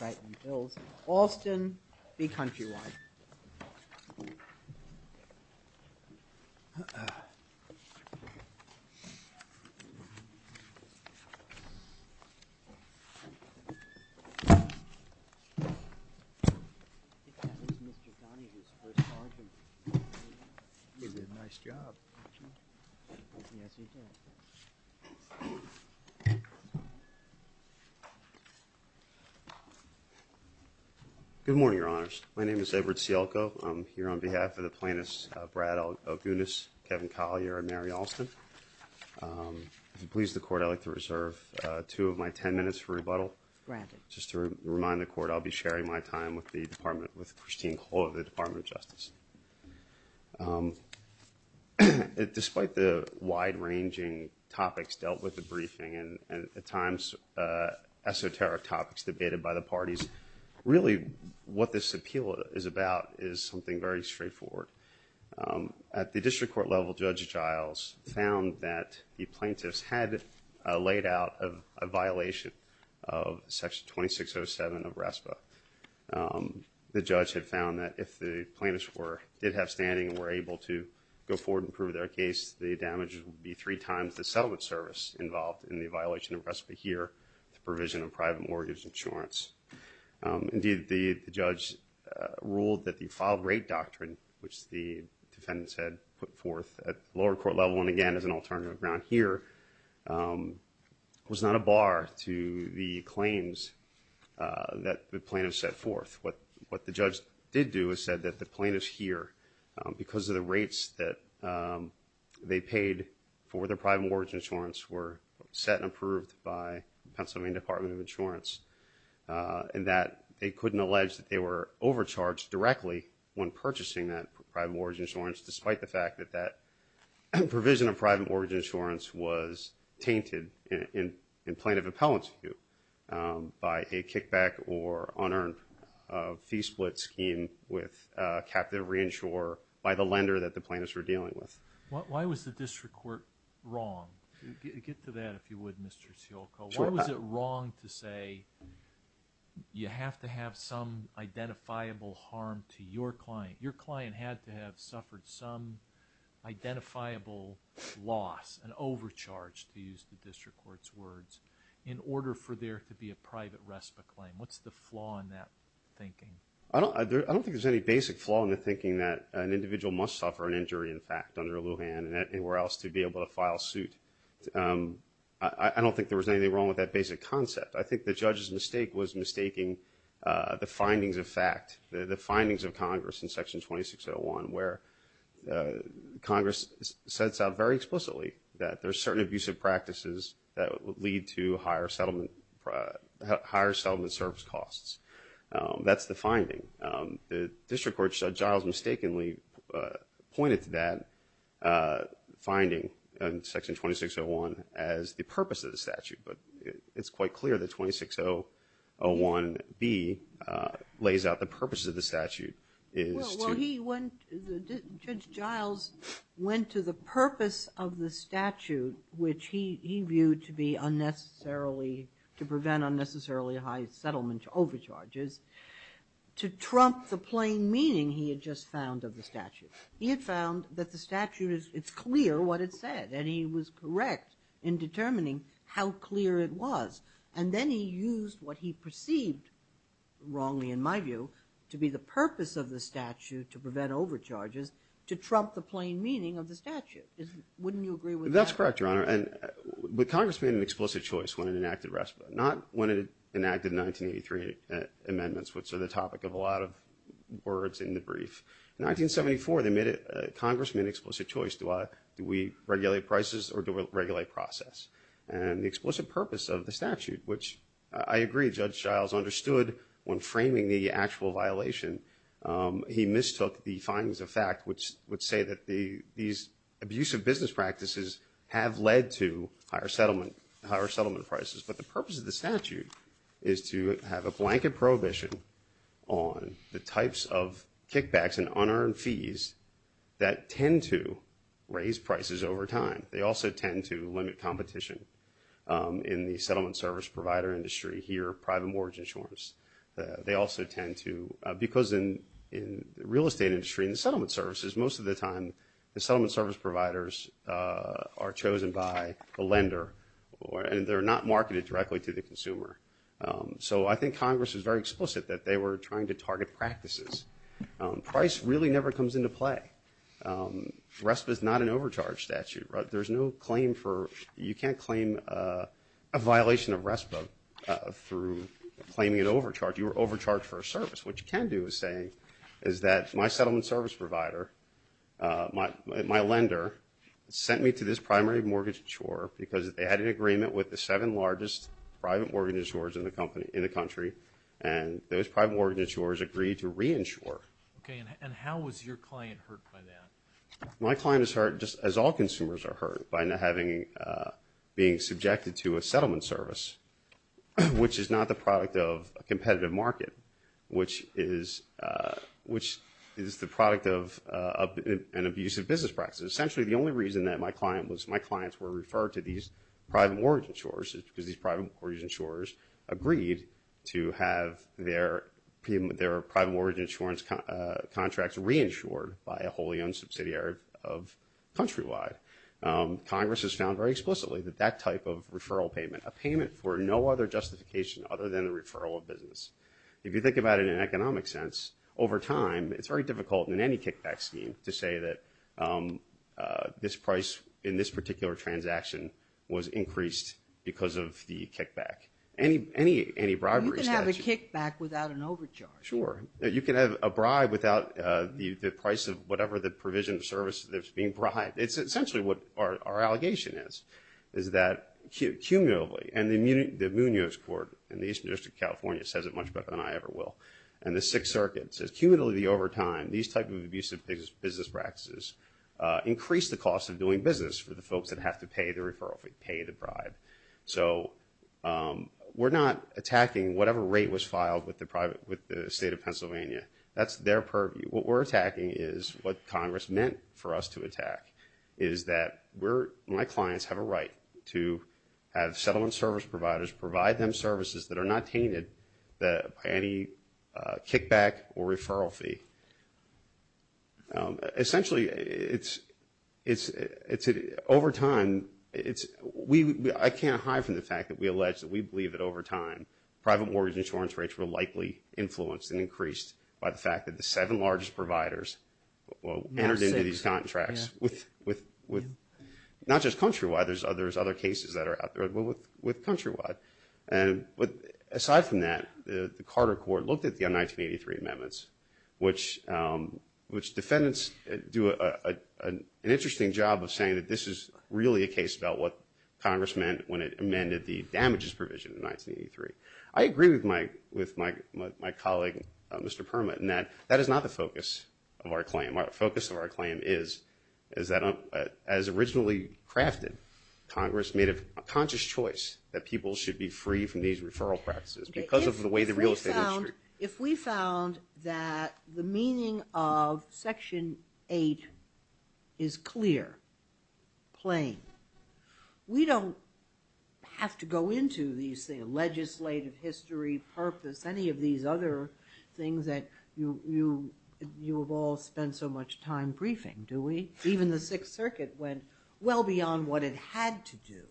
I think that was Mr. Donahue's first argument, he did a nice job, didn't he? Good morning, your honors. My name is Edward Sielko. I'm here on behalf of the plaintiffs Brad Ogunis, Kevin Collier, and Mary Alston. If it pleases the court, I'd like to reserve two of my ten minutes for rebuttal. Just to remind the court, I'll be sharing my time with Christine Cole of the Department of Justice. Despite the wide-ranging topics dealt with in the briefing, and at times esoteric topics debated by the parties, really what this appeal is about is something very straightforward. At the district court level, Judge Giles found that the plaintiffs had laid out a violation of Section 2607 of RESPA. The judge had found that if the plaintiffs did have standing and were able to go forward and prove their case, the damage would be three times the settlement service involved in the violation of RESPA here, the provision of private mortgage insurance. Indeed, the judge ruled that the lower court level, and again as an alternative ground here, was not a bar to the claims that the plaintiffs set forth. What the judge did do is said that the plaintiffs here, because of the rates that they paid for their private mortgage insurance, were set and approved by the Pennsylvania Department of Insurance, and that they couldn't allege that they were overcharged directly when purchasing that private mortgage insurance despite the fact that that provision of private mortgage insurance was tainted in plaintiff appellants view by a kickback or unearned fee split scheme with captive reinsurer by the lender that the plaintiffs were dealing with. Why was the district court wrong? Get to that, if you would, Mr. Sciolco. Why was it wrong to say you have to have some identifiable harm to your client? Your client had to have some identifiable loss, an overcharge to use the district court's words, in order for there to be a private RESPA claim? What's the flaw in that thinking? I don't think there's any basic flaw in the thinking that an individual must suffer an injury in fact under Lujan and anywhere else to be able to file suit. I don't think there was anything wrong with that basic concept. I think the judge's mistake was mistaking the findings of fact, the findings of Congress in Section 2601, where Congress sets out very explicitly that there are certain abusive practices that would lead to higher settlement service costs. That's the finding. The district court judge, Giles, mistakenly pointed to that finding in Section 2601 as the purpose of the statute, but it's quite clear that B lays out the purpose of the statute. Well, he went, Judge Giles went to the purpose of the statute, which he viewed to be unnecessarily, to prevent unnecessarily high settlement overcharges, to trump the plain meaning he had just found of the statute. He had found that the statute is, it's clear what it said, and he was correct in determining how clear it was. And then he used what he perceived, wrongly in my view, to be the purpose of the statute to prevent overcharges, to trump the plain meaning of the statute. Wouldn't you agree with that? That's correct, Your Honor. And, but Congress made an explicit choice when it enacted RESPA. Not when it enacted 1983 amendments, which are the topic of a lot of words in the brief. In 1974, they made it, Congress made an explicit choice, do I, do we regulate prices or do I regulate process? And the explicit purpose of the statute, which I agree, Judge Giles understood when framing the actual violation. He mistook the findings of fact, which would say that the, these abusive business practices have led to higher settlement, higher settlement prices. But the purpose of the statute is to have a blanket prohibition on the types of kickbacks and unearned fees that tend to raise prices over time. They also tend to limit competition in the settlement service provider industry here, private mortgage insurance. They also tend to, because in the real estate industry and the settlement services, most of the time the settlement service providers are chosen by a lender, and they're not marketed directly to the consumer. So I think Congress was very explicit that they were trying to limit prices. Price really never comes into play. RESPA is not an overcharge statute. There's no claim for, you can't claim a violation of RESPA through claiming an overcharge. You are overcharged for a service. What you can do is say, is that my settlement service provider, my lender, sent me to this primary mortgage insurer because they had an agreement with the seven largest private mortgage insurers in the country, and those private mortgage insurers agreed to reinsure. Okay, and how was your client hurt by that? My client is hurt just as all consumers are hurt by not having, being subjected to a settlement service, which is not the product of a competitive market, which is the product of an abusive business practice. Essentially, the only reason that my client was, my clients were referred to these private mortgage insurers is because these private mortgage insurers agreed to have their private mortgage insurance contracts reinsured by a wholly owned subsidiary of Countrywide. Congress has found very explicitly that that type of referral payment, a payment for no other justification other than the referral of business. If you think about it in an economic sense, over time, it's very difficult in any kickback scheme to say that this price in this particular transaction was increased because of the kickback. Any, any, any bribery statute... You can have a kickback without an overcharge. Sure. You can have a bribe without the price of whatever the provision of service that's being bribed. It's essentially what our allegation is, is that cumulatively, and the Munoz Court in the Eastern District of California says it much better than I ever will, and the Sixth Circuit's business practices increase the cost of doing business for the folks that have to pay the referral fee, pay the bribe. So we're not attacking whatever rate was filed with the private, with the State of Pennsylvania. That's their purview. What we're attacking is what Congress meant for us to attack, is that we're, my clients have a right to have settlement service providers provide them Essentially, it's, it's, it's, over time, it's, we, I can't hide from the fact that we allege that we believe that over time, private mortgage insurance rates were likely influenced and increased by the fact that the seven largest providers entered into these contracts with, with, with, not just Countrywide, there's other, there's other cases that are out there, but with, with Countrywide. And, but aside from that, the Carter Court looked at the 1983 amendments, which, which defendants do a, a, an interesting job of saying that this is really a case about what Congress meant when it amended the damages provision in 1983. I agree with my, with my, my, my colleague, Mr. Perma, in that, that is not the focus of our claim. Our focus of our claim is, is that as originally crafted, Congress made a conscious choice that people should be free from these referral practices because of the way the real estate industry. If we found, if we found that the meaning of Section 8 is clear, plain, we don't have to go into these things, legislative history, purpose, any of these other things that you, you, you have all spent so much time briefing, do we? Even the Sixth Circuit went well beyond what it had to do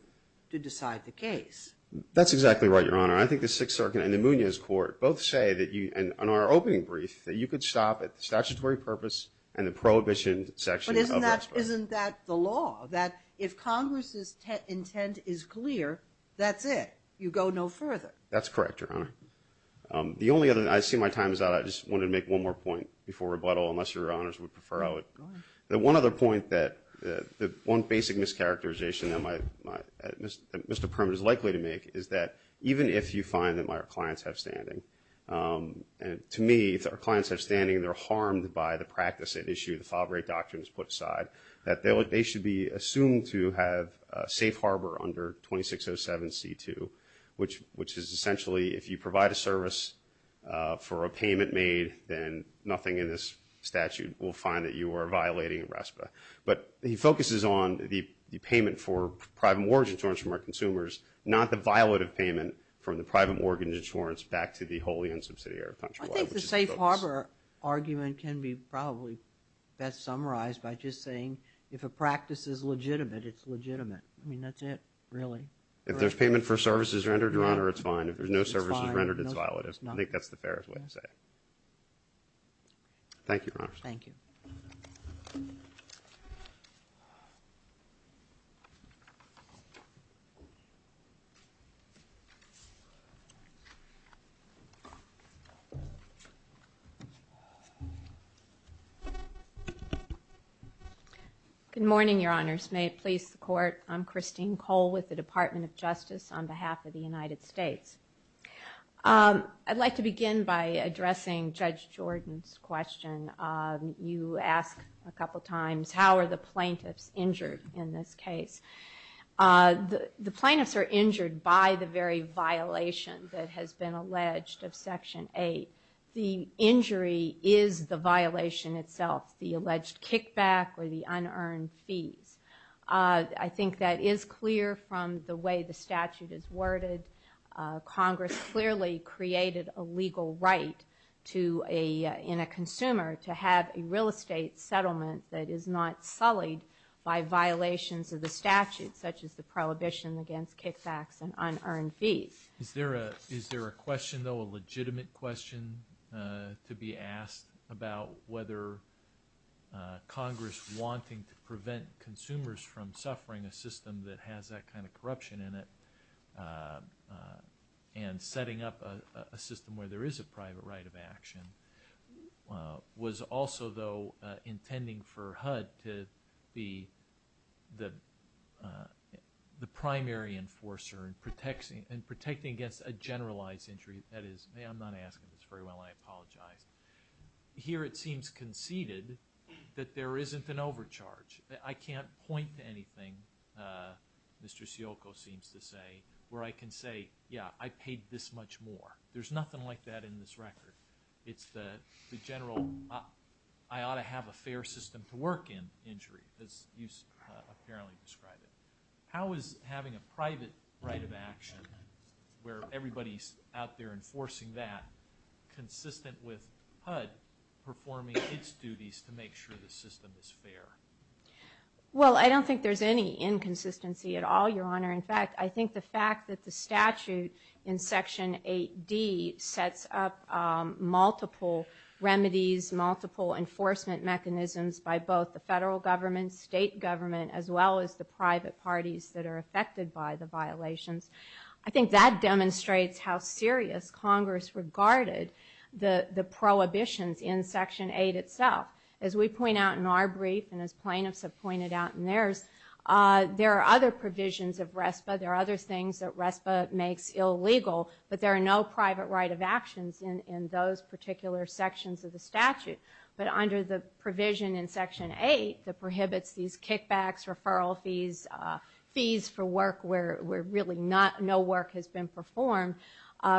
to decide the case. That's exactly right, Your Honor. I think the Sixth Circuit and the Munoz Court both say that you, in our opening brief, that you could stop at the statutory purpose and the prohibition section of the expression. But isn't that, isn't that the law? That if Congress's intent is clear, that's it. You go no further. That's correct, Your Honor. The only other, I see my time is out. I just wanted to make one more point before rebuttal, unless Your Honors would prefer I would. Go ahead. The one other point that, the, the one basic mischaracterization that my, my, that Mr. Perlman is likely to make is that even if you find that my clients have standing, and to me, if our clients have standing and they're harmed by the practice at issue, the file break doctrine is put aside, that they should be assumed to have a safe harbor under 2607C2, which, which is essentially if you provide a service for a payment made then nothing in this statute will find that you are violating RESPA. But he focuses on the, the payment for private mortgage insurance from our consumers, not the violative payment from the private mortgage insurance back to the wholly unsubsidiary contract. I think the safe harbor argument can be probably best summarized by just saying if a practice is legitimate, it's legitimate. I mean, that's it, really. If there's payment for services rendered, Your Honor, it's fine. If there's no services rendered, it's violative. I think that's the fairest way to say it. Thank you, Your Honor. Thank you. Good morning, Your Honors. May it please the Court. I'm Christine Cole with the Department of Justice on behalf of the United States. I'd like to begin by addressing Judge Jordan's question. You asked a couple times, how are the plaintiffs injured in this case? The, the plaintiffs are injured by the very violation that has been alleged of Section 8. The injury is the violation itself, the alleged kickback or the unearned fees. I think that is clear from the way the case is reported. Congress clearly created a legal right to a, in a consumer to have a real estate settlement that is not sullied by violations of the statute such as the prohibition against kickbacks and unearned fees. Is there a, is there a question, though, a legitimate question to be asked about whether Congress wanting to prevent consumers from suffering a system that has that kind of corruption in it and setting up a system where there is a private right of action was also, though, intending for HUD to be the, the primary enforcer and protecting, and protecting against a generalized injury that is, I'm not asking this very well, I apologize. Here it seems conceded that there isn't an overcharge. I can't point to anything Mr. Sciocco seems to say where I can say, yeah, I paid this much more. There's nothing like that in this record. It's the, the general, I ought to have a fair system to work in injury as you apparently described it. How is having a private right of action where everybody's out there enforcing that consistent with HUD performing its duties to make sure the system is fair? Well, I don't think there's any inconsistency at all, Your Honor. In fact, I think the fact that the statute in Section 8D sets up multiple remedies, multiple enforcement mechanisms by both the federal government, state government, as well as the private parties that are affected by the violations. I think that demonstrates how serious Congress regarded the prohibitions in Section 8 itself. As we point out in our brief, and as plaintiffs have pointed out in theirs, there are other provisions of RESPA, there are other things that RESPA makes illegal, but there are no private right of actions in those particular sections of the statute. But under the provision in Section 8 that prohibits these kickbacks, referral fees, fees for work where really no work has been performed,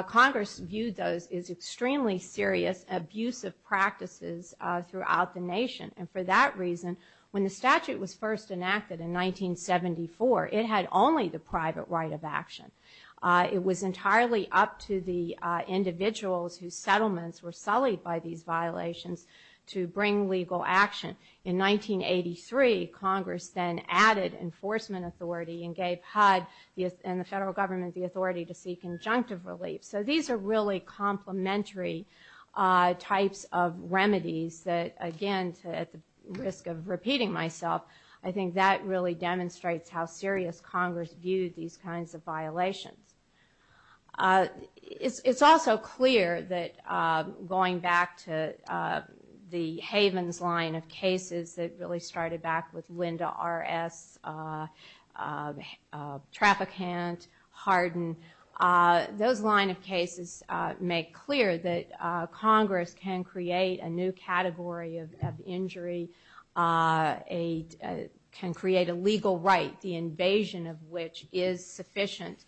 Congress viewed those as extremely serious, abusive practices throughout the nation. And for that reason, when the statute was first enacted in 1974, it had only the private right of action. It was entirely up to the individuals whose settlements were sullied by these violations to bring legal action. In 1983, Congress then added enforcement authority and gave HUD and the federal government complementary types of remedies that, again, at the risk of repeating myself, I think that really demonstrates how serious Congress viewed these kinds of violations. It's also clear that going back to the Havens line of cases that really started back with Linda R.S., Traficant, Hardin, those line of cases mentioned in Section 8, there are some that make clear that Congress can create a new category of injury, can create a legal right, the invasion of which is sufficient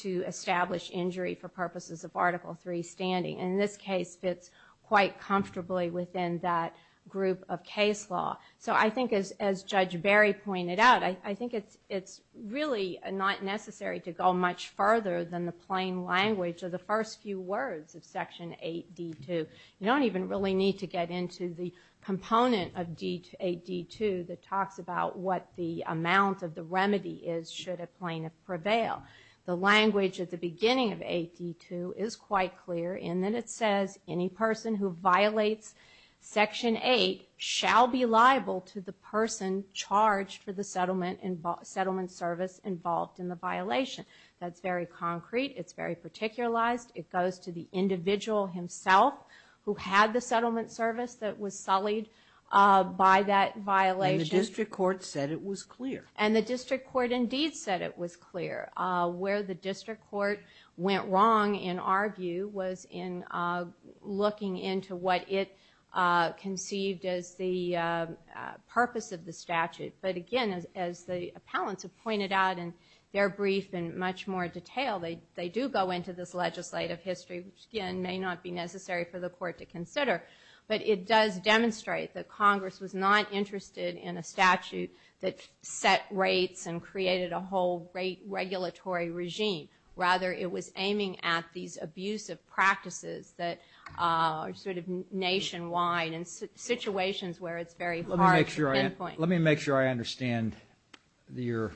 to establish injury for purposes of Article 3 standing. And this case fits quite comfortably within that group of case law. So I think as Judge Berry pointed out, I think it's really not necessary to go much further than the few words of Section 8D2. You don't even really need to get into the component of 8D2 that talks about what the amount of the remedy is should a plaintiff prevail. The language at the beginning of 8D2 is quite clear in that it says, any person who violates Section 8 shall be liable to the person charged for the settlement service involved in the violation. That's very concrete. It's very particularized. It goes to the individual himself who had the settlement service that was sullied by that violation. And the district court said it was clear. And the district court indeed said it was clear. Where the district court went wrong in our view was in looking into what it conceived as the purpose of the statute. But again, as the appellants have pointed out in their brief in much more detail, they do go into this legislative history, which again may not be necessary for the court to consider. But it does demonstrate that Congress was not interested in a statute that set rates and created a whole rate regulatory regime. Rather, it was aiming at these abusive practices that are sort of nationwide and situations where it's very hard to pinpoint. Let me make sure I understand your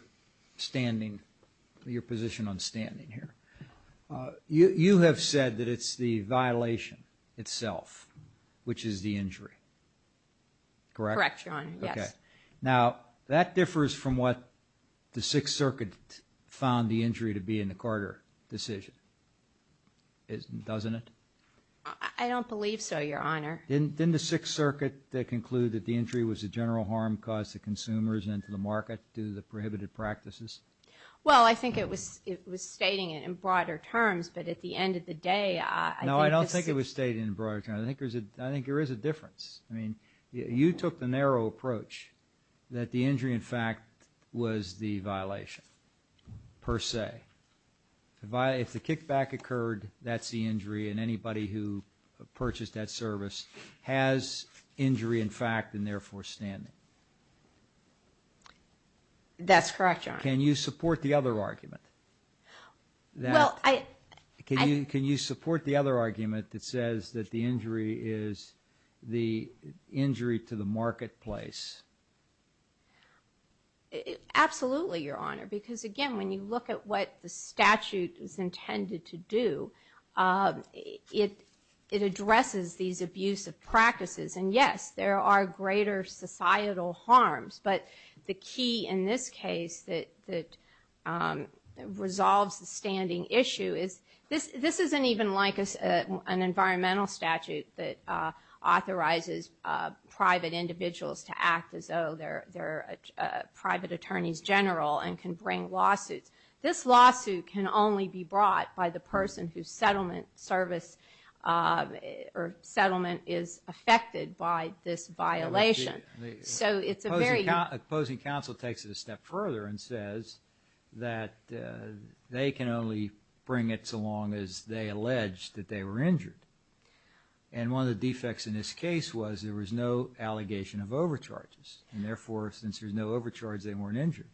standing, your position on standing here. You have said that it's the violation itself, which is the injury. Correct? Correct, Your Honor. Yes. Now that differs from what the Sixth Circuit found the injury to be in the Carter decision. Doesn't it? I don't believe so, Your Honor. Didn't the Sixth Circuit conclude that the injury was a general harm caused to consumers and to the market due to the prohibited practices? Well, I think it was stating it in broader terms. But at the end of the day, I think this... No, I don't think it was stating it in broader terms. I think there is a difference. I mean, you took the narrow approach that the injury in fact was the violation per se. If the kickback occurred, that's the injury and anybody who purchased that service has injury in fact and therefore standing. That's correct, Your Honor. Can you support the other argument? Well, I... Can you support the other argument that says that the injury is the injury to the marketplace? Absolutely, Your Honor. Because again, when you look at what the statute is intended to do, it addresses these abusive practices. And yes, there are greater societal harms, but the key in this case that resolves the standing issue is this isn't even like an act as though they're a private attorney's general and can bring lawsuits. This lawsuit can only be brought by the person whose settlement service or settlement is affected by this violation. So it's a very... Opposing counsel takes it a step further and says that they can only bring it so long as they allege that they were injured. And one of the defects in this case was there was no allegation of overcharges. And therefore, since there's no overcharges, they weren't injured.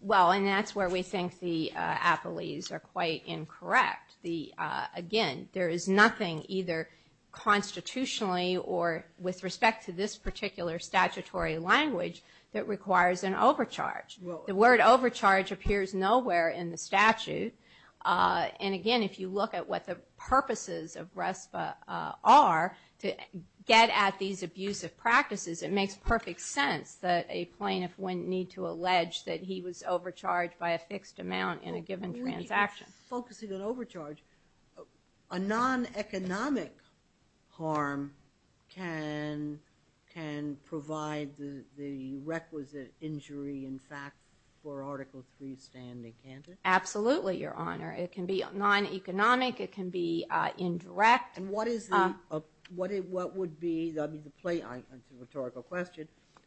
Well, and that's where we think the apologies are quite incorrect. Again, there is nothing either constitutionally or with respect to this particular statutory language that requires an overcharge. The word overcharge appears nowhere in the statute. And again, if you look at what the purposes of RESPA are to get at these abusive practices, it makes perfect sense that a plaintiff wouldn't need to allege that he was overcharged by a fixed amount in a given transaction. Well, when you're focusing on overcharge, a non-economic harm can provide the requisite injury in fact for Article III standing, can't it? Absolutely, Your Honor. It can be non-economic. It can be indirect. And what is the... What would be the... I mean, the plaintiff... It's a rhetorical question.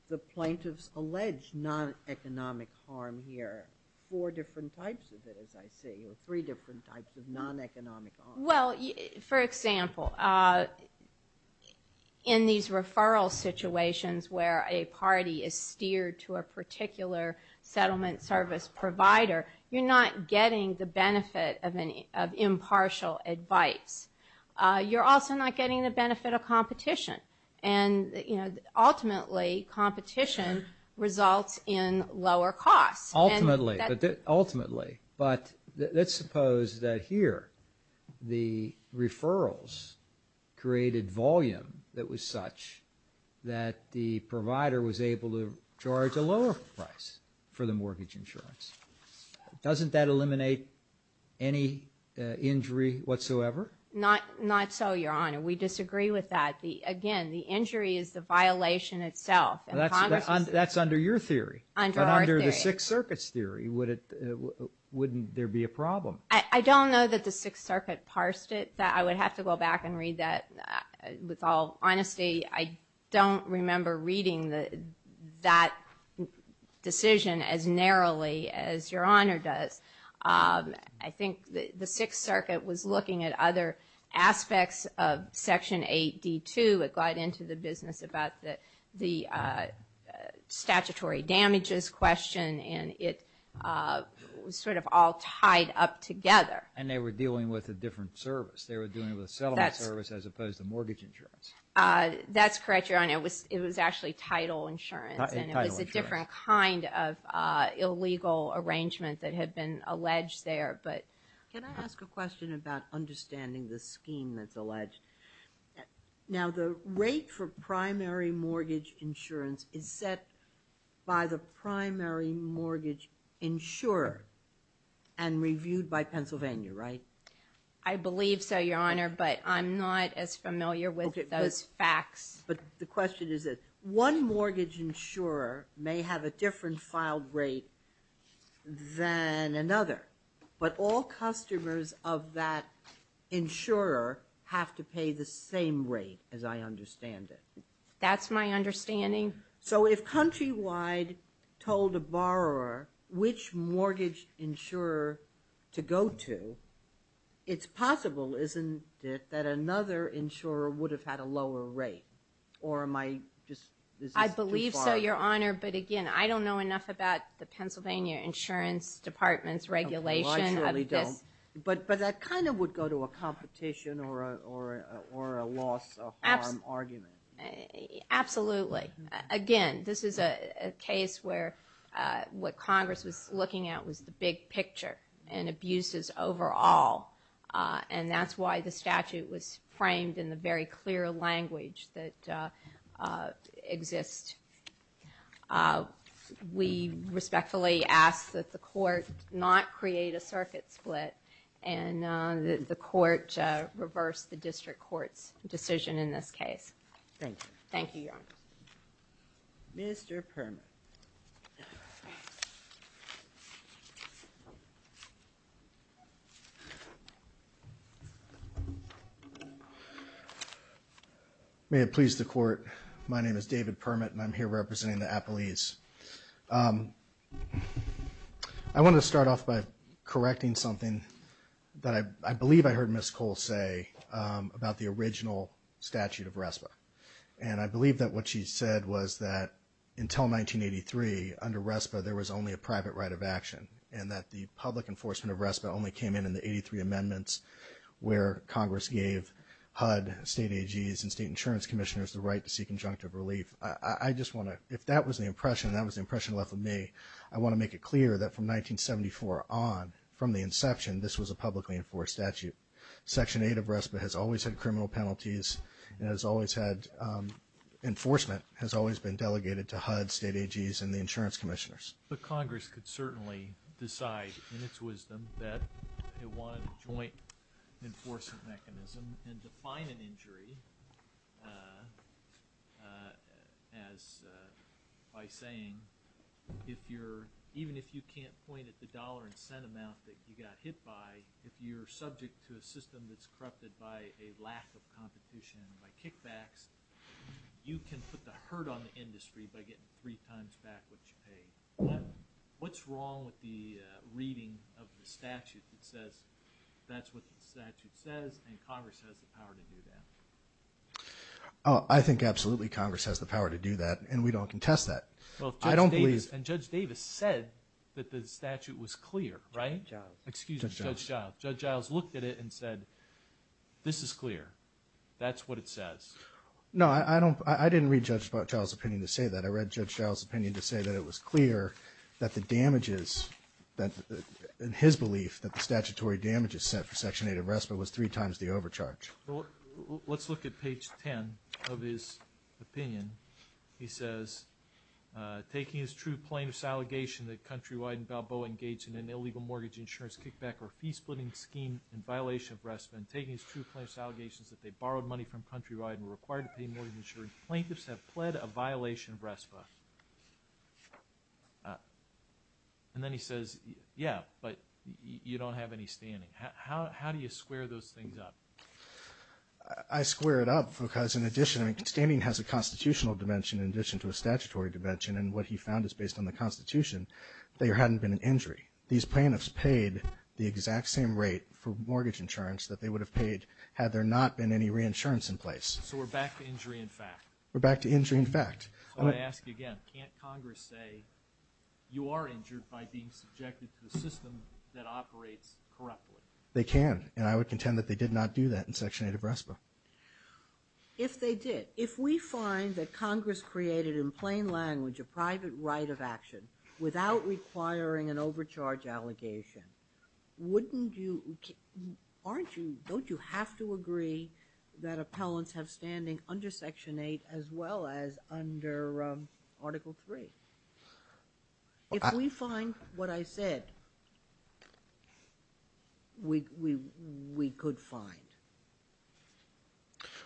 The plaintiff's alleged non-economic harm here, four different types of it, as I see, or three different types of non-economic harm. Well, for example, in these referral situations where a party is steered to a particular settlement service provider, you're not getting the benefit of impartial advice. You're also not getting the benefit of competition. And ultimately, competition results in lower costs. Ultimately. But let's suppose that here the referrals created volume that was such that the provider was able to charge a lower price for the mortgage insurance. Doesn't that eliminate any injury whatsoever? Not so, Your Honor. We disagree with that. Again, the injury is the violation itself. That's under your theory. Under our theory. But under the Sixth Circuit's theory, wouldn't there be a problem? I don't know that the Sixth Circuit parsed it. I would have to go back and read that. With all honesty, I don't remember reading that decision as narrowly as Your Honor does. I think the Sixth Circuit was looking at other aspects of Section 8D2. It got into the business about the statutory damages question, and it was sort of all tied up together. And they were dealing with a different service. They were dealing with a settlement service as opposed to mortgage insurance. That's correct, Your Honor. It was actually title insurance, and it was a different kind of illegal arrangement that had been alleged there. Can I ask a question about understanding the scheme that's alleged? Now, the rate for primary mortgage insurance is set by the primary mortgage insurer and reviewed by Pennsylvania, right? I believe so, Your Honor, but I'm not as familiar with those facts. But the question is that one mortgage insurer may have a different filed rate than another, but all customers of that insurer have to pay the same rate, as I understand it. That's my understanding. So if Countrywide told a borrower which mortgage insurer to go to, they would have to pay the same rate. It's possible, isn't it, that another insurer would have had a lower rate? Or am I just... I believe so, Your Honor, but again, I don't know enough about the Pennsylvania Insurance Department's regulation of this. I surely don't. But that kind of would go to a competition or a loss of harm argument. Absolutely. Again, this is a case where what Congress was looking at was the big picture and abuses overall. And that's why the statute was framed in the very clear language that exists. We respectfully ask that the Court not create a circuit split and that the Court reverse the District Court's decision in this case. Thank you. Thank you, Your Honor. Mr. Permit. May it please the Court, my name is David Permit and I'm here representing the Appellees. I want to start off by correcting something that I believe I heard Ms. Cole say about the original statute of RESPA. And I believe that what she said was that until 1983, under RESPA, there was only a private right of action and that the public enforcement of RESPA only came in in the 83 amendments where Congress gave HUD, state AGs, and state insurance commissioners the right to seek injunctive relief. I just want to, if that was the impression, that was the impression left with me, I want to make it clear that from 1974 on, from the inception, this was a publicly enforced statute. Section 8 of RESPA has always had criminal penalties and has always had, enforcement has always been delegated to HUD, state AGs, and the insurance commissioners. But Congress could certainly decide, in its wisdom, that it wanted a joint enforcement mechanism and define an injury as, by saying, if you're, even if you can't point at the system that's corrupted by a lack of competition, by kickbacks, you can put the hurt on the industry by getting three times back what you paid. What's wrong with the reading of the statute that says, that's what the statute says, and Congress has the power to do that? I think absolutely Congress has the power to do that, and we don't contest that. Well, Judge Davis, and Judge Davis said that the statute was clear, right? Judge Giles. Judge Giles. Judge Giles looked at it and said, this is clear. That's what it says. No, I don't, I didn't read Judge Giles' opinion to say that. I read Judge Giles' opinion to say that it was clear that the damages that, in his belief, that the statutory damages set for Section 8 of RESPA was three times the overcharge. Let's look at page 10 of his opinion. He says, taking his true plaintiff's allegation that Countrywide and Balboa engaged in an illegal mortgage insurance kickback or fee-splitting scheme in violation of RESPA, and taking his true plaintiff's allegations that they borrowed money from Countrywide and were required to pay mortgage insurance, plaintiffs have pled a violation of RESPA. And then he says, yeah, but you don't have any standing. How do you square those things up? I square it up because, in addition, standing has a constitutional dimension in addition to a statutory dimension, and what he found is, based on the Constitution, there hadn't been an injury. These plaintiffs paid the exact same rate for mortgage insurance that they would have paid had there not been any reinsurance in place. So we're back to injury in fact? We're back to injury in fact. So I ask again, can't Congress say you are injured by being subjected to the system that operates correctly? They can, and I would contend that they did not do that in Section 8 of RESPA. If they did. If we find that Congress created, in plain language, a private right of action without requiring an overcharge allegation, wouldn't you, aren't you, don't you have to agree that appellants have standing under Section 8 as well as under Article 3? If we find what I said, we could find.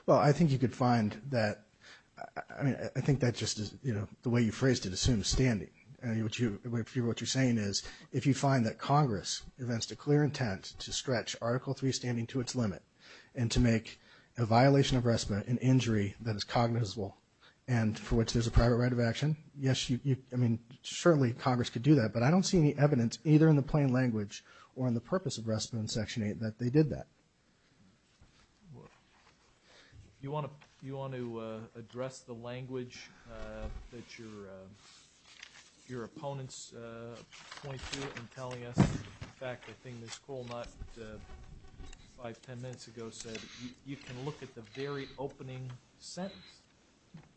Well, I think you could find that, I mean, I think that just is, you know, the way you what you're saying is, if you find that Congress evinced a clear intent to stretch Article 3 standing to its limit and to make a violation of RESPA an injury that is cognizable and for which there's a private right of action, yes, you, I mean, certainly Congress could do that, but I don't see any evidence either in the plain language or in the purpose of RESPA in Section 8 that they did that. Well, you want to, you want to address the language that your, your opponents point to and telling us? In fact, I think Ms. Kulnott five, ten minutes ago said, you can look at the very opening sentence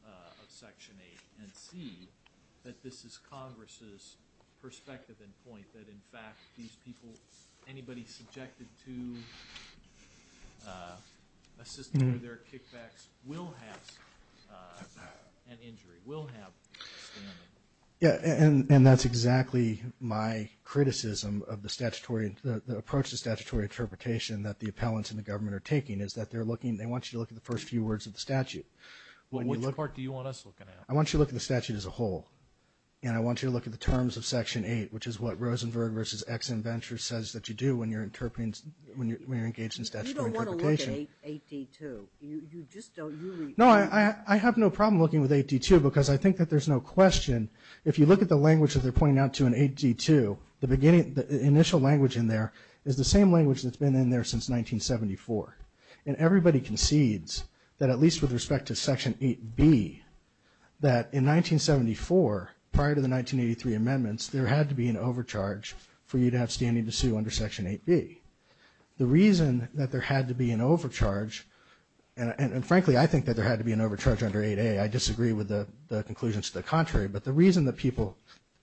of Section 8 and see that this is Congress' perspective and point that, in fact, these people, anybody subjected to a system where there are kickbacks will have an injury, will have standing. Yeah, and that's exactly my criticism of the statutory, the approach to statutory interpretation that the appellants and the government are taking is that they're looking, they want you to look at the first few words of the statute. Well, which part do you want us looking at? I want you to look at the statute as a whole and I want you to look at the terms of Section 8, which is what Rosenberg versus Ex-Inventor says that you do when you're interpreting, when you're engaged in statutory interpretation. You don't want to look at 8D2, you, you just don't, you really. No, I, I have no problem looking with 8D2 because I think that there's no question, if you look at the language that they're pointing out to in 8D2, the beginning, the initial language in there is the same language that's been in there since 1974 and everybody concedes that at least with respect to Section 8B, that in 1974, prior to the 1983 amendments, there had to be an overcharge for you to have standing to sue under Section 8B. The reason that there had to be an overcharge, and frankly, I think that there had to be an overcharge under 8A, I disagree with the conclusions to the contrary, but the reason that people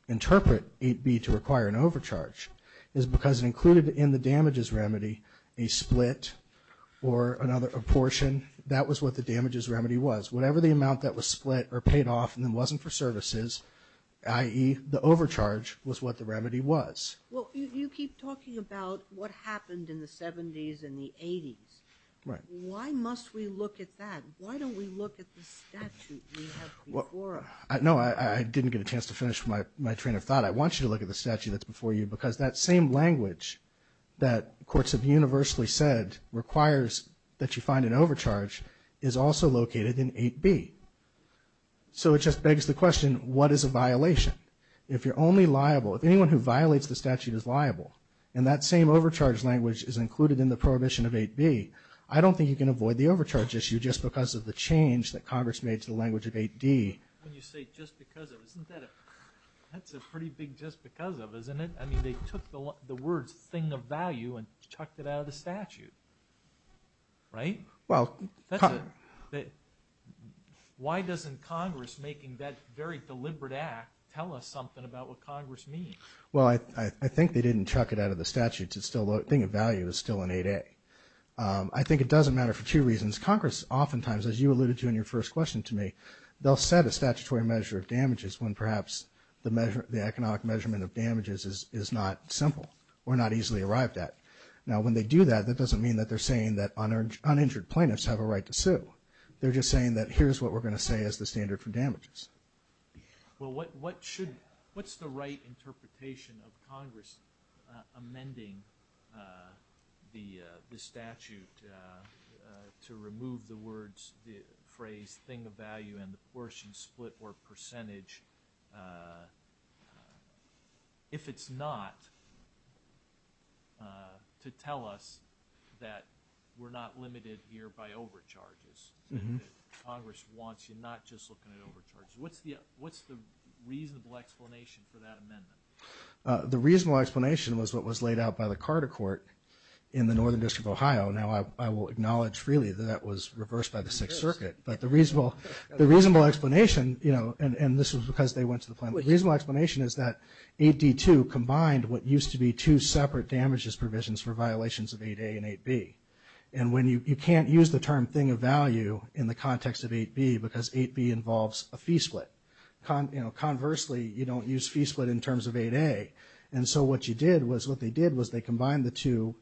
interpret 8B to require an overcharge is because it included in the damages remedy a split or another, a portion, that was what the damages remedy was, whatever the amount that was split or paid off and it wasn't for services, i.e., the overcharge was what the remedy was. Well, you, you keep talking about what happened in the 70s and the 80s. Right. Why must we look at that? Why don't we look at the statute we have before us? Well, no, I, I didn't get a chance to finish my, my train of thought. I want you to look at the statute that's before you because that same language that courts have universally said requires that you find an overcharge is also located in 8B. So it just begs the question, what is a violation? If you're only liable, if anyone who violates the statute is liable and that same overcharge language is included in the prohibition of 8B, I don't think you can avoid the overcharge issue just because of the change that Congress made to the language of 8D. When you say just because of, isn't that a, that's a pretty big just because of, isn't it? I mean, they took the, the words thing of value and chucked it out of the statute, right? Well, that's a, why doesn't Congress making that very deliberate act tell us something about what Congress means? Well, I, I think they didn't chuck it out of the statute. It's still, the thing of value is still in 8A. I think it doesn't matter for two reasons. Congress oftentimes, as you alluded to in your first question to me, they'll set a statutory measure of damages when perhaps the measure, the economic measurement of damages is not simple or not easily arrived at. Now when they do that, that doesn't mean that they're saying that uninjured plaintiffs have a right to sue. They're just saying that here's what we're going to say is the standard for damages. Well, what, what should, what's the right interpretation of Congress amending the statute to remove the words, the phrase thing of value and the portion split or percentage if it's not to tell us that we're not limited here by overcharges and that Congress wants you not just looking at overcharges? What's the, what's the reasonable explanation for that amendment? The reasonable explanation was what was laid out by the Carter court in the Northern District of Ohio. Now I will acknowledge freely that that was reversed by the Sixth Circuit, but the reasonable, the reasonable explanation, you know, and, and this was because they went to the plaintiff. The reasonable explanation is that 8D2 combined what used to be two separate damages provisions for violations of 8A and 8B. And when you, you can't use the term thing of value in the context of 8B because 8B involves a fee split. Con, you know, conversely, you don't use fee split in terms of 8A. And so what you did was what they did was they combined the two,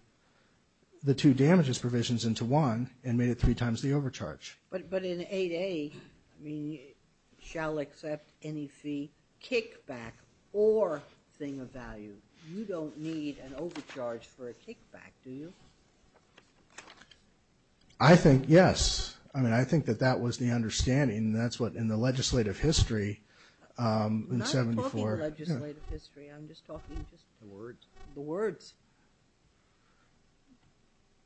the two damages provisions into one and made it three times the overcharge. But in 8A, I mean, shall accept any fee kickback or thing of value. You don't need an overcharge for a kickback, do you? I think, yes. I mean, I think that that was the understanding and that's what in the legislative history in 74. I'm not talking legislative history. I'm just talking just. The words. The words.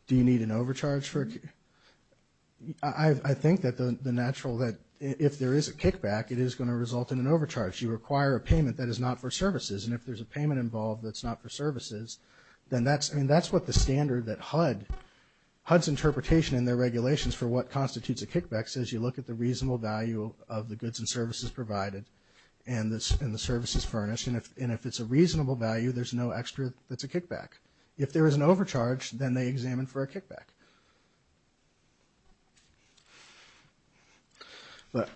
Do you need an overcharge for a kickback? I think that the natural, that if there is a kickback, it is going to result in an overcharge. You require a payment that is not for services and if there's a payment involved that's not for services, then that's, I mean, that's what the standard that HUD, HUD's interpretation in their regulations for what constitutes a kickback says you look at the reasonable value of the goods and services provided and the services furnished and if it's a reasonable value, there's no extra that's a kickback. If there is an overcharge, then they examine for a kickback. But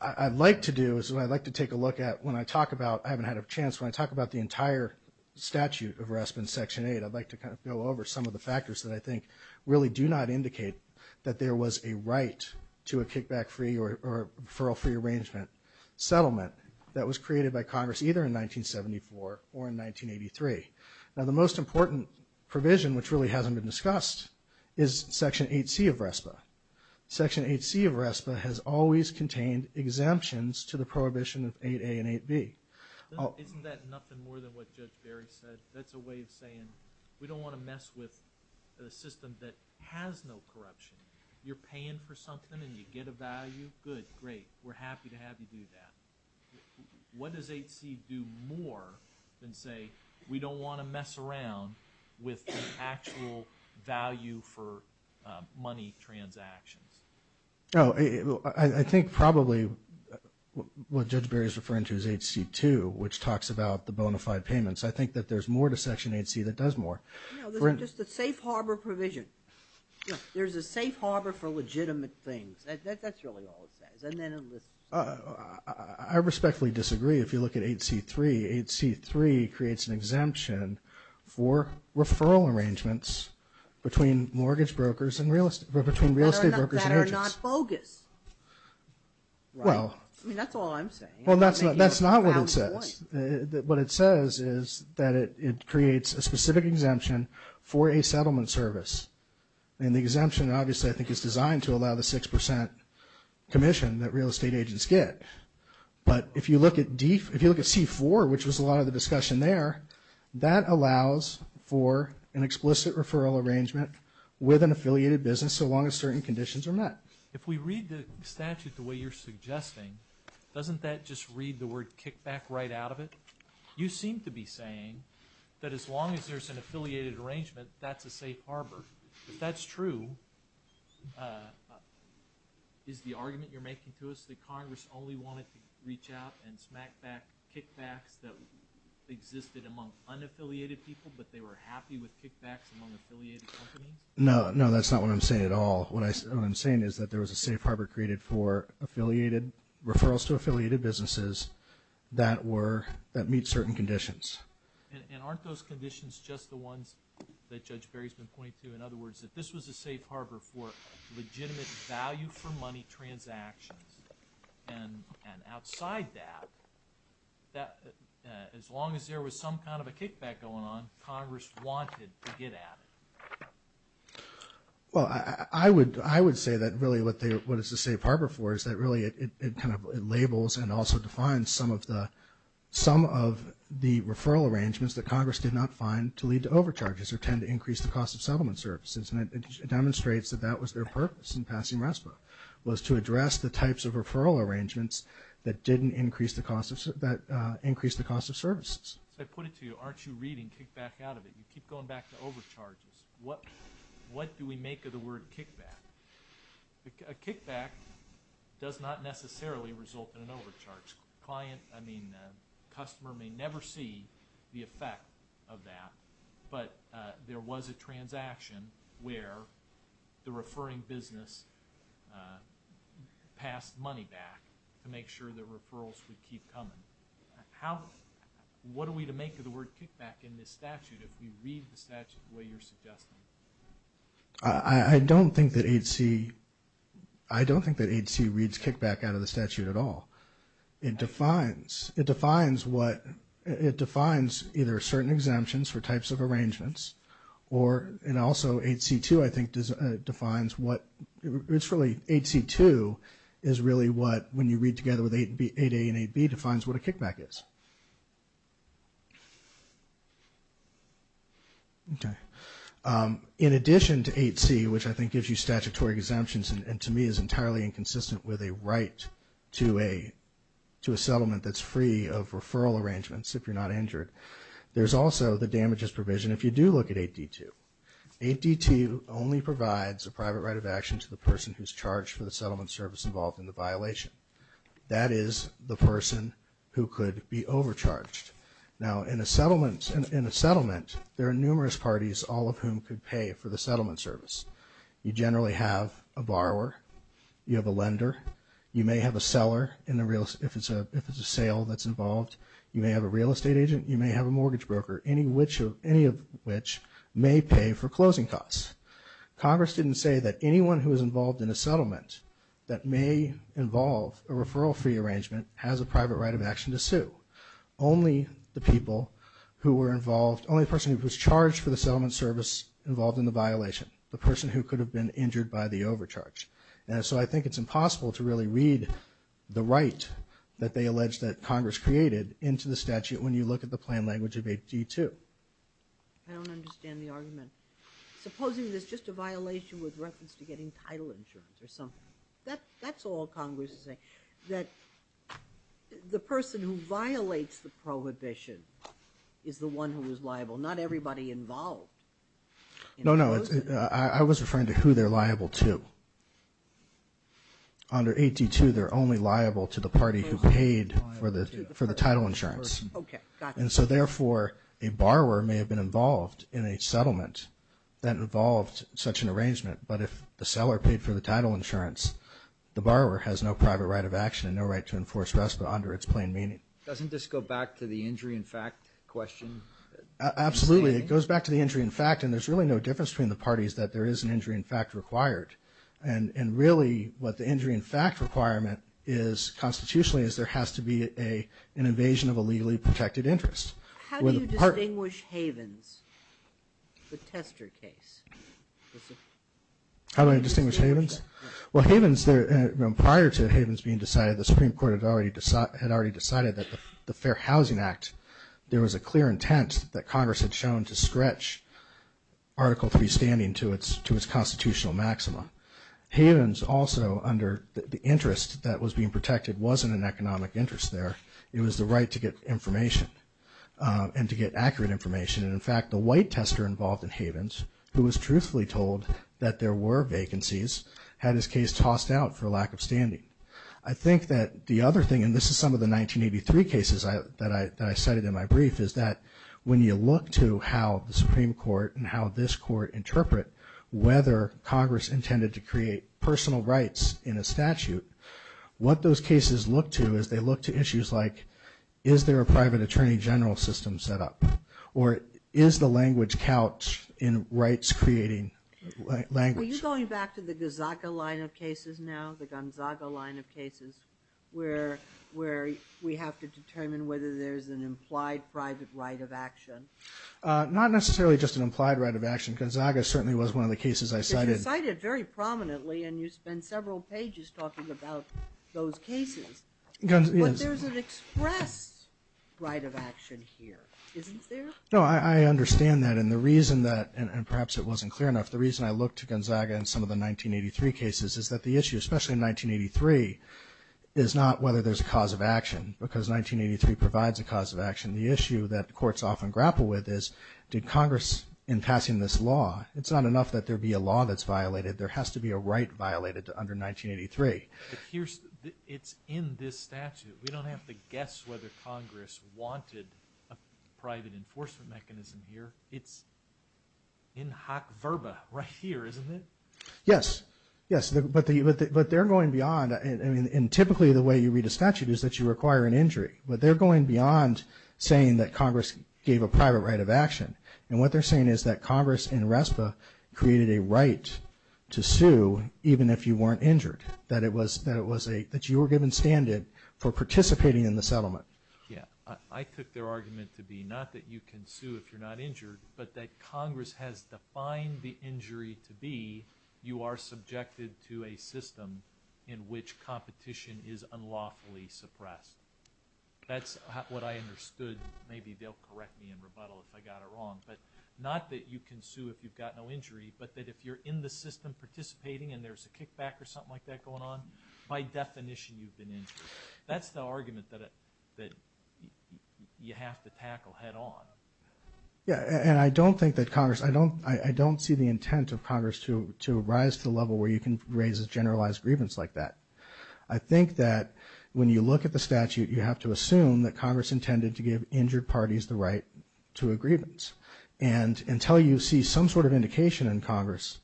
I'd like to do is I'd like to take a look at when I talk about, I haven't had a chance when I talk about the entire statute of rest in Section 8, I'd like to kind of go over some of the factors that I think really do not indicate that there was a right to a kickback free or referral free arrangement settlement that was created by Congress either in 1974 or in 1983. Now, the most important provision which really hasn't been discussed is Section 8C of RESPA. Section 8C of RESPA has always contained exemptions to the prohibition of 8A and 8B. Isn't that nothing more than what Judge Barry said, that's a way of saying we don't want to mess with a system that has no corruption. You're paying for something and you get a value, good, great, we're happy to have you do that. What does 8C do more than say we don't want to mess around with actual value for money transactions? Oh, I think probably what Judge Barry is referring to is 8C2 which talks about the bona fide payments. I think that there's more to Section 8C that does more. No, this is just a safe harbor provision. There's a safe harbor for legitimate things. That's really all it says. I respectfully disagree if you look at 8C3. 8C3 creates an exemption for referral arrangements between real estate brokers and agents. That are not bogus. Well, that's not what it says. What it says is that it creates a specific exemption for a settlement service. And the exemption obviously I think is designed to allow the 6% commission that real estate agents get. But if you look at C4, which was a lot of the discussion there, that allows for an explicit referral arrangement with an affiliated business so long as certain conditions are met. If we read the statute the way you're suggesting, doesn't that just read the word kickback right out of it? You seem to be saying that as long as there's an affiliated arrangement, that's a safe harbor. If that's true, is the argument you're making to us that Congress only wanted to reach out and smack back kickbacks that existed among unaffiliated people but they were happy with kickbacks among affiliated companies? No, that's not what I'm saying at all. What I'm saying is that there was a safe harbor created for referrals to affiliated businesses that meet certain conditions. And aren't those conditions just the ones that Judge Berry's been pointing to? In other words, that this was a safe harbor for legitimate value for money transactions. And outside that, as long as there was some kind of a kickback going on, Congress wanted to get at it. Well, I would say that really what it's a safe harbor for is that really it kind of labels and also defines some of the referral arrangements that Congress did not find to lead to overcharges or tend to increase the cost of settlement services. And it demonstrates that that was their purpose in passing RESPA, was to address the types of referral arrangements that didn't increase the cost of services. So I put it to you, aren't you reading kickback out of it? You keep going back to overcharges. What do we make of the word kickback? A kickback does not necessarily result in an overcharge. Customer may never see the effect of that. But there was a transaction where the referring business passed money back to make sure that referrals would keep coming. What are we to make of the word kickback in this statute if we read the statute the way you're suggesting? I don't think that 8C, I don't think that 8C reads kickback out of the statute at all. It defines, it defines what, it defines either certain exemptions for types of arrangements or, and also 8C2 I think defines what, it's really 8C2 is really what when you read together with 8A and 8B defines what a kickback is. Okay. In addition to 8C, which I think gives you statutory exemptions and to me is entirely inconsistent with a right to a settlement that's free of referral arrangements if you're not injured, there's also the damages provision if you do look at 8D2. 8D2 only provides a private right of action to the person who's charged for the settlement service involved in the violation. That is the person who could be overcharged. Now in a settlement, in a settlement there are numerous parties all of whom could pay for the settlement service. You generally have a borrower, you have a lender, you may have a seller in the real, if it's a sale that's involved, you may have a real estate agent, you may have a mortgage broker, any of which may pay for closing costs. Congress didn't say that anyone who was involved in a settlement that may involve a referral free arrangement has a private right of action to sue. Only the people who were involved, only the person who was charged for the settlement service involved in the violation, the person who could have been injured by the overcharge. And so I think it's impossible to really read the right that they allege that Congress created into the statute when you look at the plain language of 8D2. I don't understand the argument. Supposing there's just a violation with reference to getting title insurance or something. That's all Congress is saying. The person who violates the prohibition is the one who is liable. Not everybody involved. I was referring to who they're liable to. Under 8D2 they're only liable to the party who paid for the title insurance. And so therefore a borrower may have been involved in a settlement that involved such an arrangement. But if the seller paid for the title insurance, the borrower has no private right of action and no right to enforce RESPA under its plain meaning. Doesn't this go back to the injury in fact question? Absolutely. It goes back to the injury in fact and there's really no difference between the parties that there is an injury in fact required. And really what the injury in fact requirement is constitutionally is there has to be an invasion of a legally protected interest. How do you distinguish Havens? How do I distinguish Havens? Well Havens, prior to Havens being decided, the Supreme Court had already decided that the Fair Housing Act, there was a clear intent that Congress had shown to stretch Article 3 standing to its constitutional maxima. Havens also under the interest that was being protected wasn't an economic interest there. It was the right to get information and to get accurate information and in fact the white tester involved in Havens who was truthfully told that there were vacancies had his case tossed out for lack of standing. I think that the other thing and this is some of the 1983 cases that I cited in my brief is that when you look to how the Supreme Court and how this court interpret whether Congress intended to create personal rights in a statute, what those cases look to is they look to issues like is there a private attorney general system set up or is the language couch in rights creating language. Are you going back to the Gonzaga line of cases now, the Gonzaga line of cases where we have to determine whether there's an implied private right of action? Not necessarily just an implied right of action. Gonzaga certainly was one of the cases I cited. You cited very prominently and you spent several pages talking about those cases. But there's an expressed right of action here. Isn't there? I understand that and the reason that and perhaps it wasn't clear enough, the reason I looked to Gonzaga and some of the 1983 cases is that the issue, especially in 1983 is not whether there's a cause of action because 1983 provides a cause of action. The issue that courts often grapple with is did Congress in passing this law, it's not enough that there be a law that's violated, there has to be a right violated under 1983. It's in this statute. We don't have to guess whether Congress wanted a private enforcement mechanism here. It's in hoc verba right here, isn't it? Yes. But they're going beyond and typically the way you read a statute is that you require an injury. But they're going beyond saying that Congress gave a private right of action. And what they're saying is that Congress in RESPA created a right to sue even if you weren't injured. That you were given standard for participating in the settlement. Yeah. I took their argument to be not that you can sue if you're not injured, but that Congress has defined the injury to be you are subjected to a system in which competition is unlawfully suppressed. That's what I understood. Maybe they'll correct me in rebuttal if I got it wrong. But not that you can sue if you've got no injury, but that if you're in the system participating and there's a kickback or something like that going on, by definition you've been injured. That's the argument that you have to tackle head on. Yeah. And I don't think that Congress, I don't see the intent of Congress to rise to the level where you can raise a generalized grievance like that. I think that when you look at the statute you have to assume that Congress intended to give injured parties the right to a grievance. And until you see some sort of indication in Congress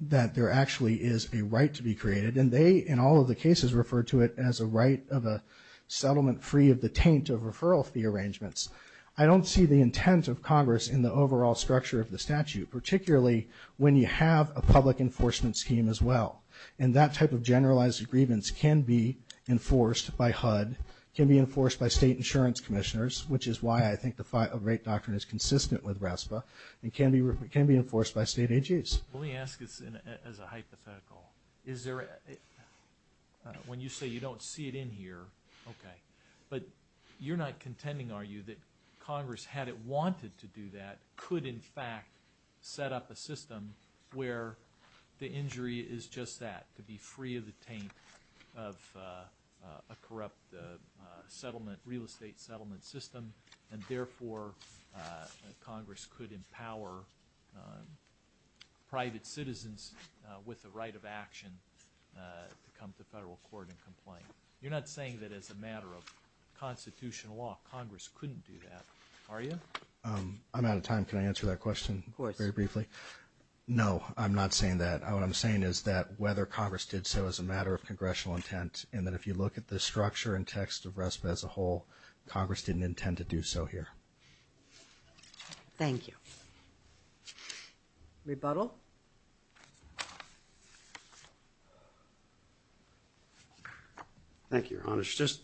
that there actually is a right to be created, and they in all of the cases refer to it as a right of a settlement free of the taint of referral fee arrangements. I don't see the intent of Congress in the overall structure of the statute. Particularly when you have a public enforcement scheme as well. And that type of generalized grievance can be enforced by HUD, can be enforced by state insurance commissioners which is why I think the right doctrine is consistent with RESPA and can be enforced by state AGs. Let me ask this as a hypothetical. Is there, when you say you don't see it in here okay, but you're not contending are you that Congress had it wanted to do that, could in fact set up a system where the injury is just that. To be free of the taint of a corrupt settlement, real estate settlement system and therefore Congress could empower private citizens with the right of action to come to federal court and complain. You're not saying that as a matter of constitutional law, Congress couldn't do that, are you? I'm out of time, can I answer that question very briefly? Of course. No, I'm not saying that. What I'm saying is that whether Congress did so as a matter of congressional intent and that if you look at the structure and text of RESPA as a whole, Congress didn't intend to do so here. Thank you. Rebuttal? Thank you, Your Honor. Just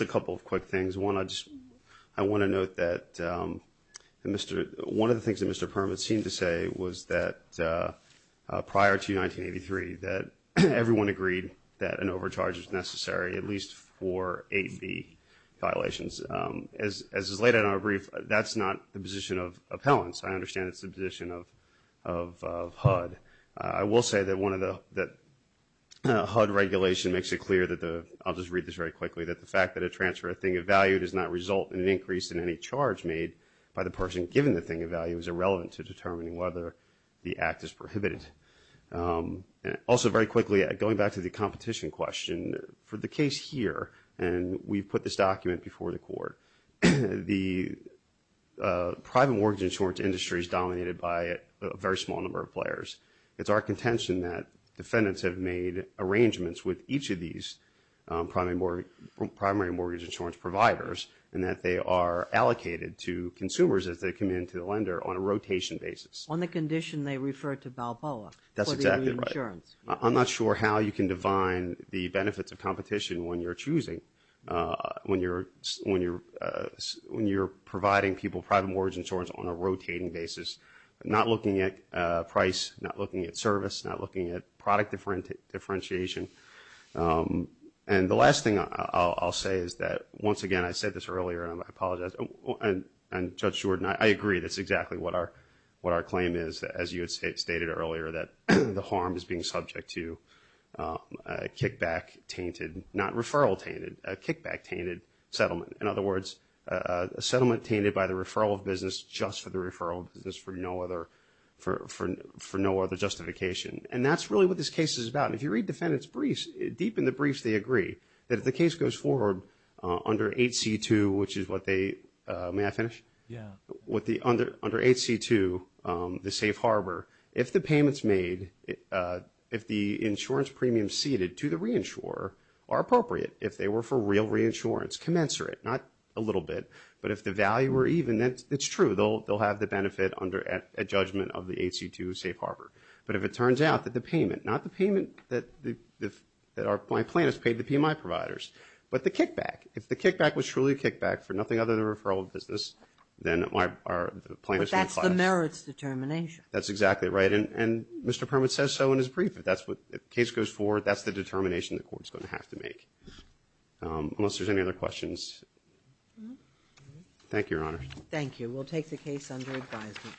a couple of quick things. One I just want to note that one of the things that Mr. Perman seemed to say was that prior to 1983 that everyone agreed that an overcharge is necessary at least for 8B violations. As is laid out in our brief, that's not the position of appellants. I understand it's the position of HUD. I will say that HUD regulation makes it clear that the, I'll just read this very quickly, that the fact that a transfer of thing of value does not result in an increase in any charge made by the person given the thing of value is irrelevant to determining whether the act is prohibited. Also very quickly, going back to the competition question, for the case here, and we've put this document before the Court, the private mortgage insurance industry is dominated by a very small number of players. It's our contention that defendants have made arrangements with each of these primary mortgage insurance providers and that they are allocated to consumers as they come in to the lender on a rotation basis. On the condition they refer to Balboa. That's exactly right. I'm not sure how you can define the benefits of competition when you're choosing when you're providing people private mortgage insurance on a rotating basis, not looking at price, not looking at service, not looking at product differentiation. And the last thing I'll say is that once again, I said this earlier and I apologize, and Judge Jordan, I agree that's exactly what our claim is, as you had stated earlier, that the harm is being subject to a kickback-tainted, not referral-tainted, a kickback-tainted settlement. In other words, a settlement tainted by the referral of business just for the referral of business for no other justification. And that's really what this case is about. And if you read defendants' briefs, deep in the briefs they agree that if the case goes forward under 8C2, which is what they may I finish? Yeah. Under 8C2 the safe harbor, if the payments made, if the insurance premium ceded to the reinsurer are appropriate, if they were for real reinsurance, commensurate, not a little bit, but if the value were even then it's true, they'll have the benefit under a judgment of the 8C2 safe harbor. But if it turns out that the payment, not the payment that my plaintiffs paid the PMI providers, but the kickback, if the referral of business, then my, the plaintiffs will be classed. But that's the merits determination. That's exactly right. And Mr. Perman says so in his brief. If that's what the case goes forward, that's the determination the court's going to have to make. Unless there's any other questions. Thank you, Your Honor. Thank you. We'll take the case under advisement.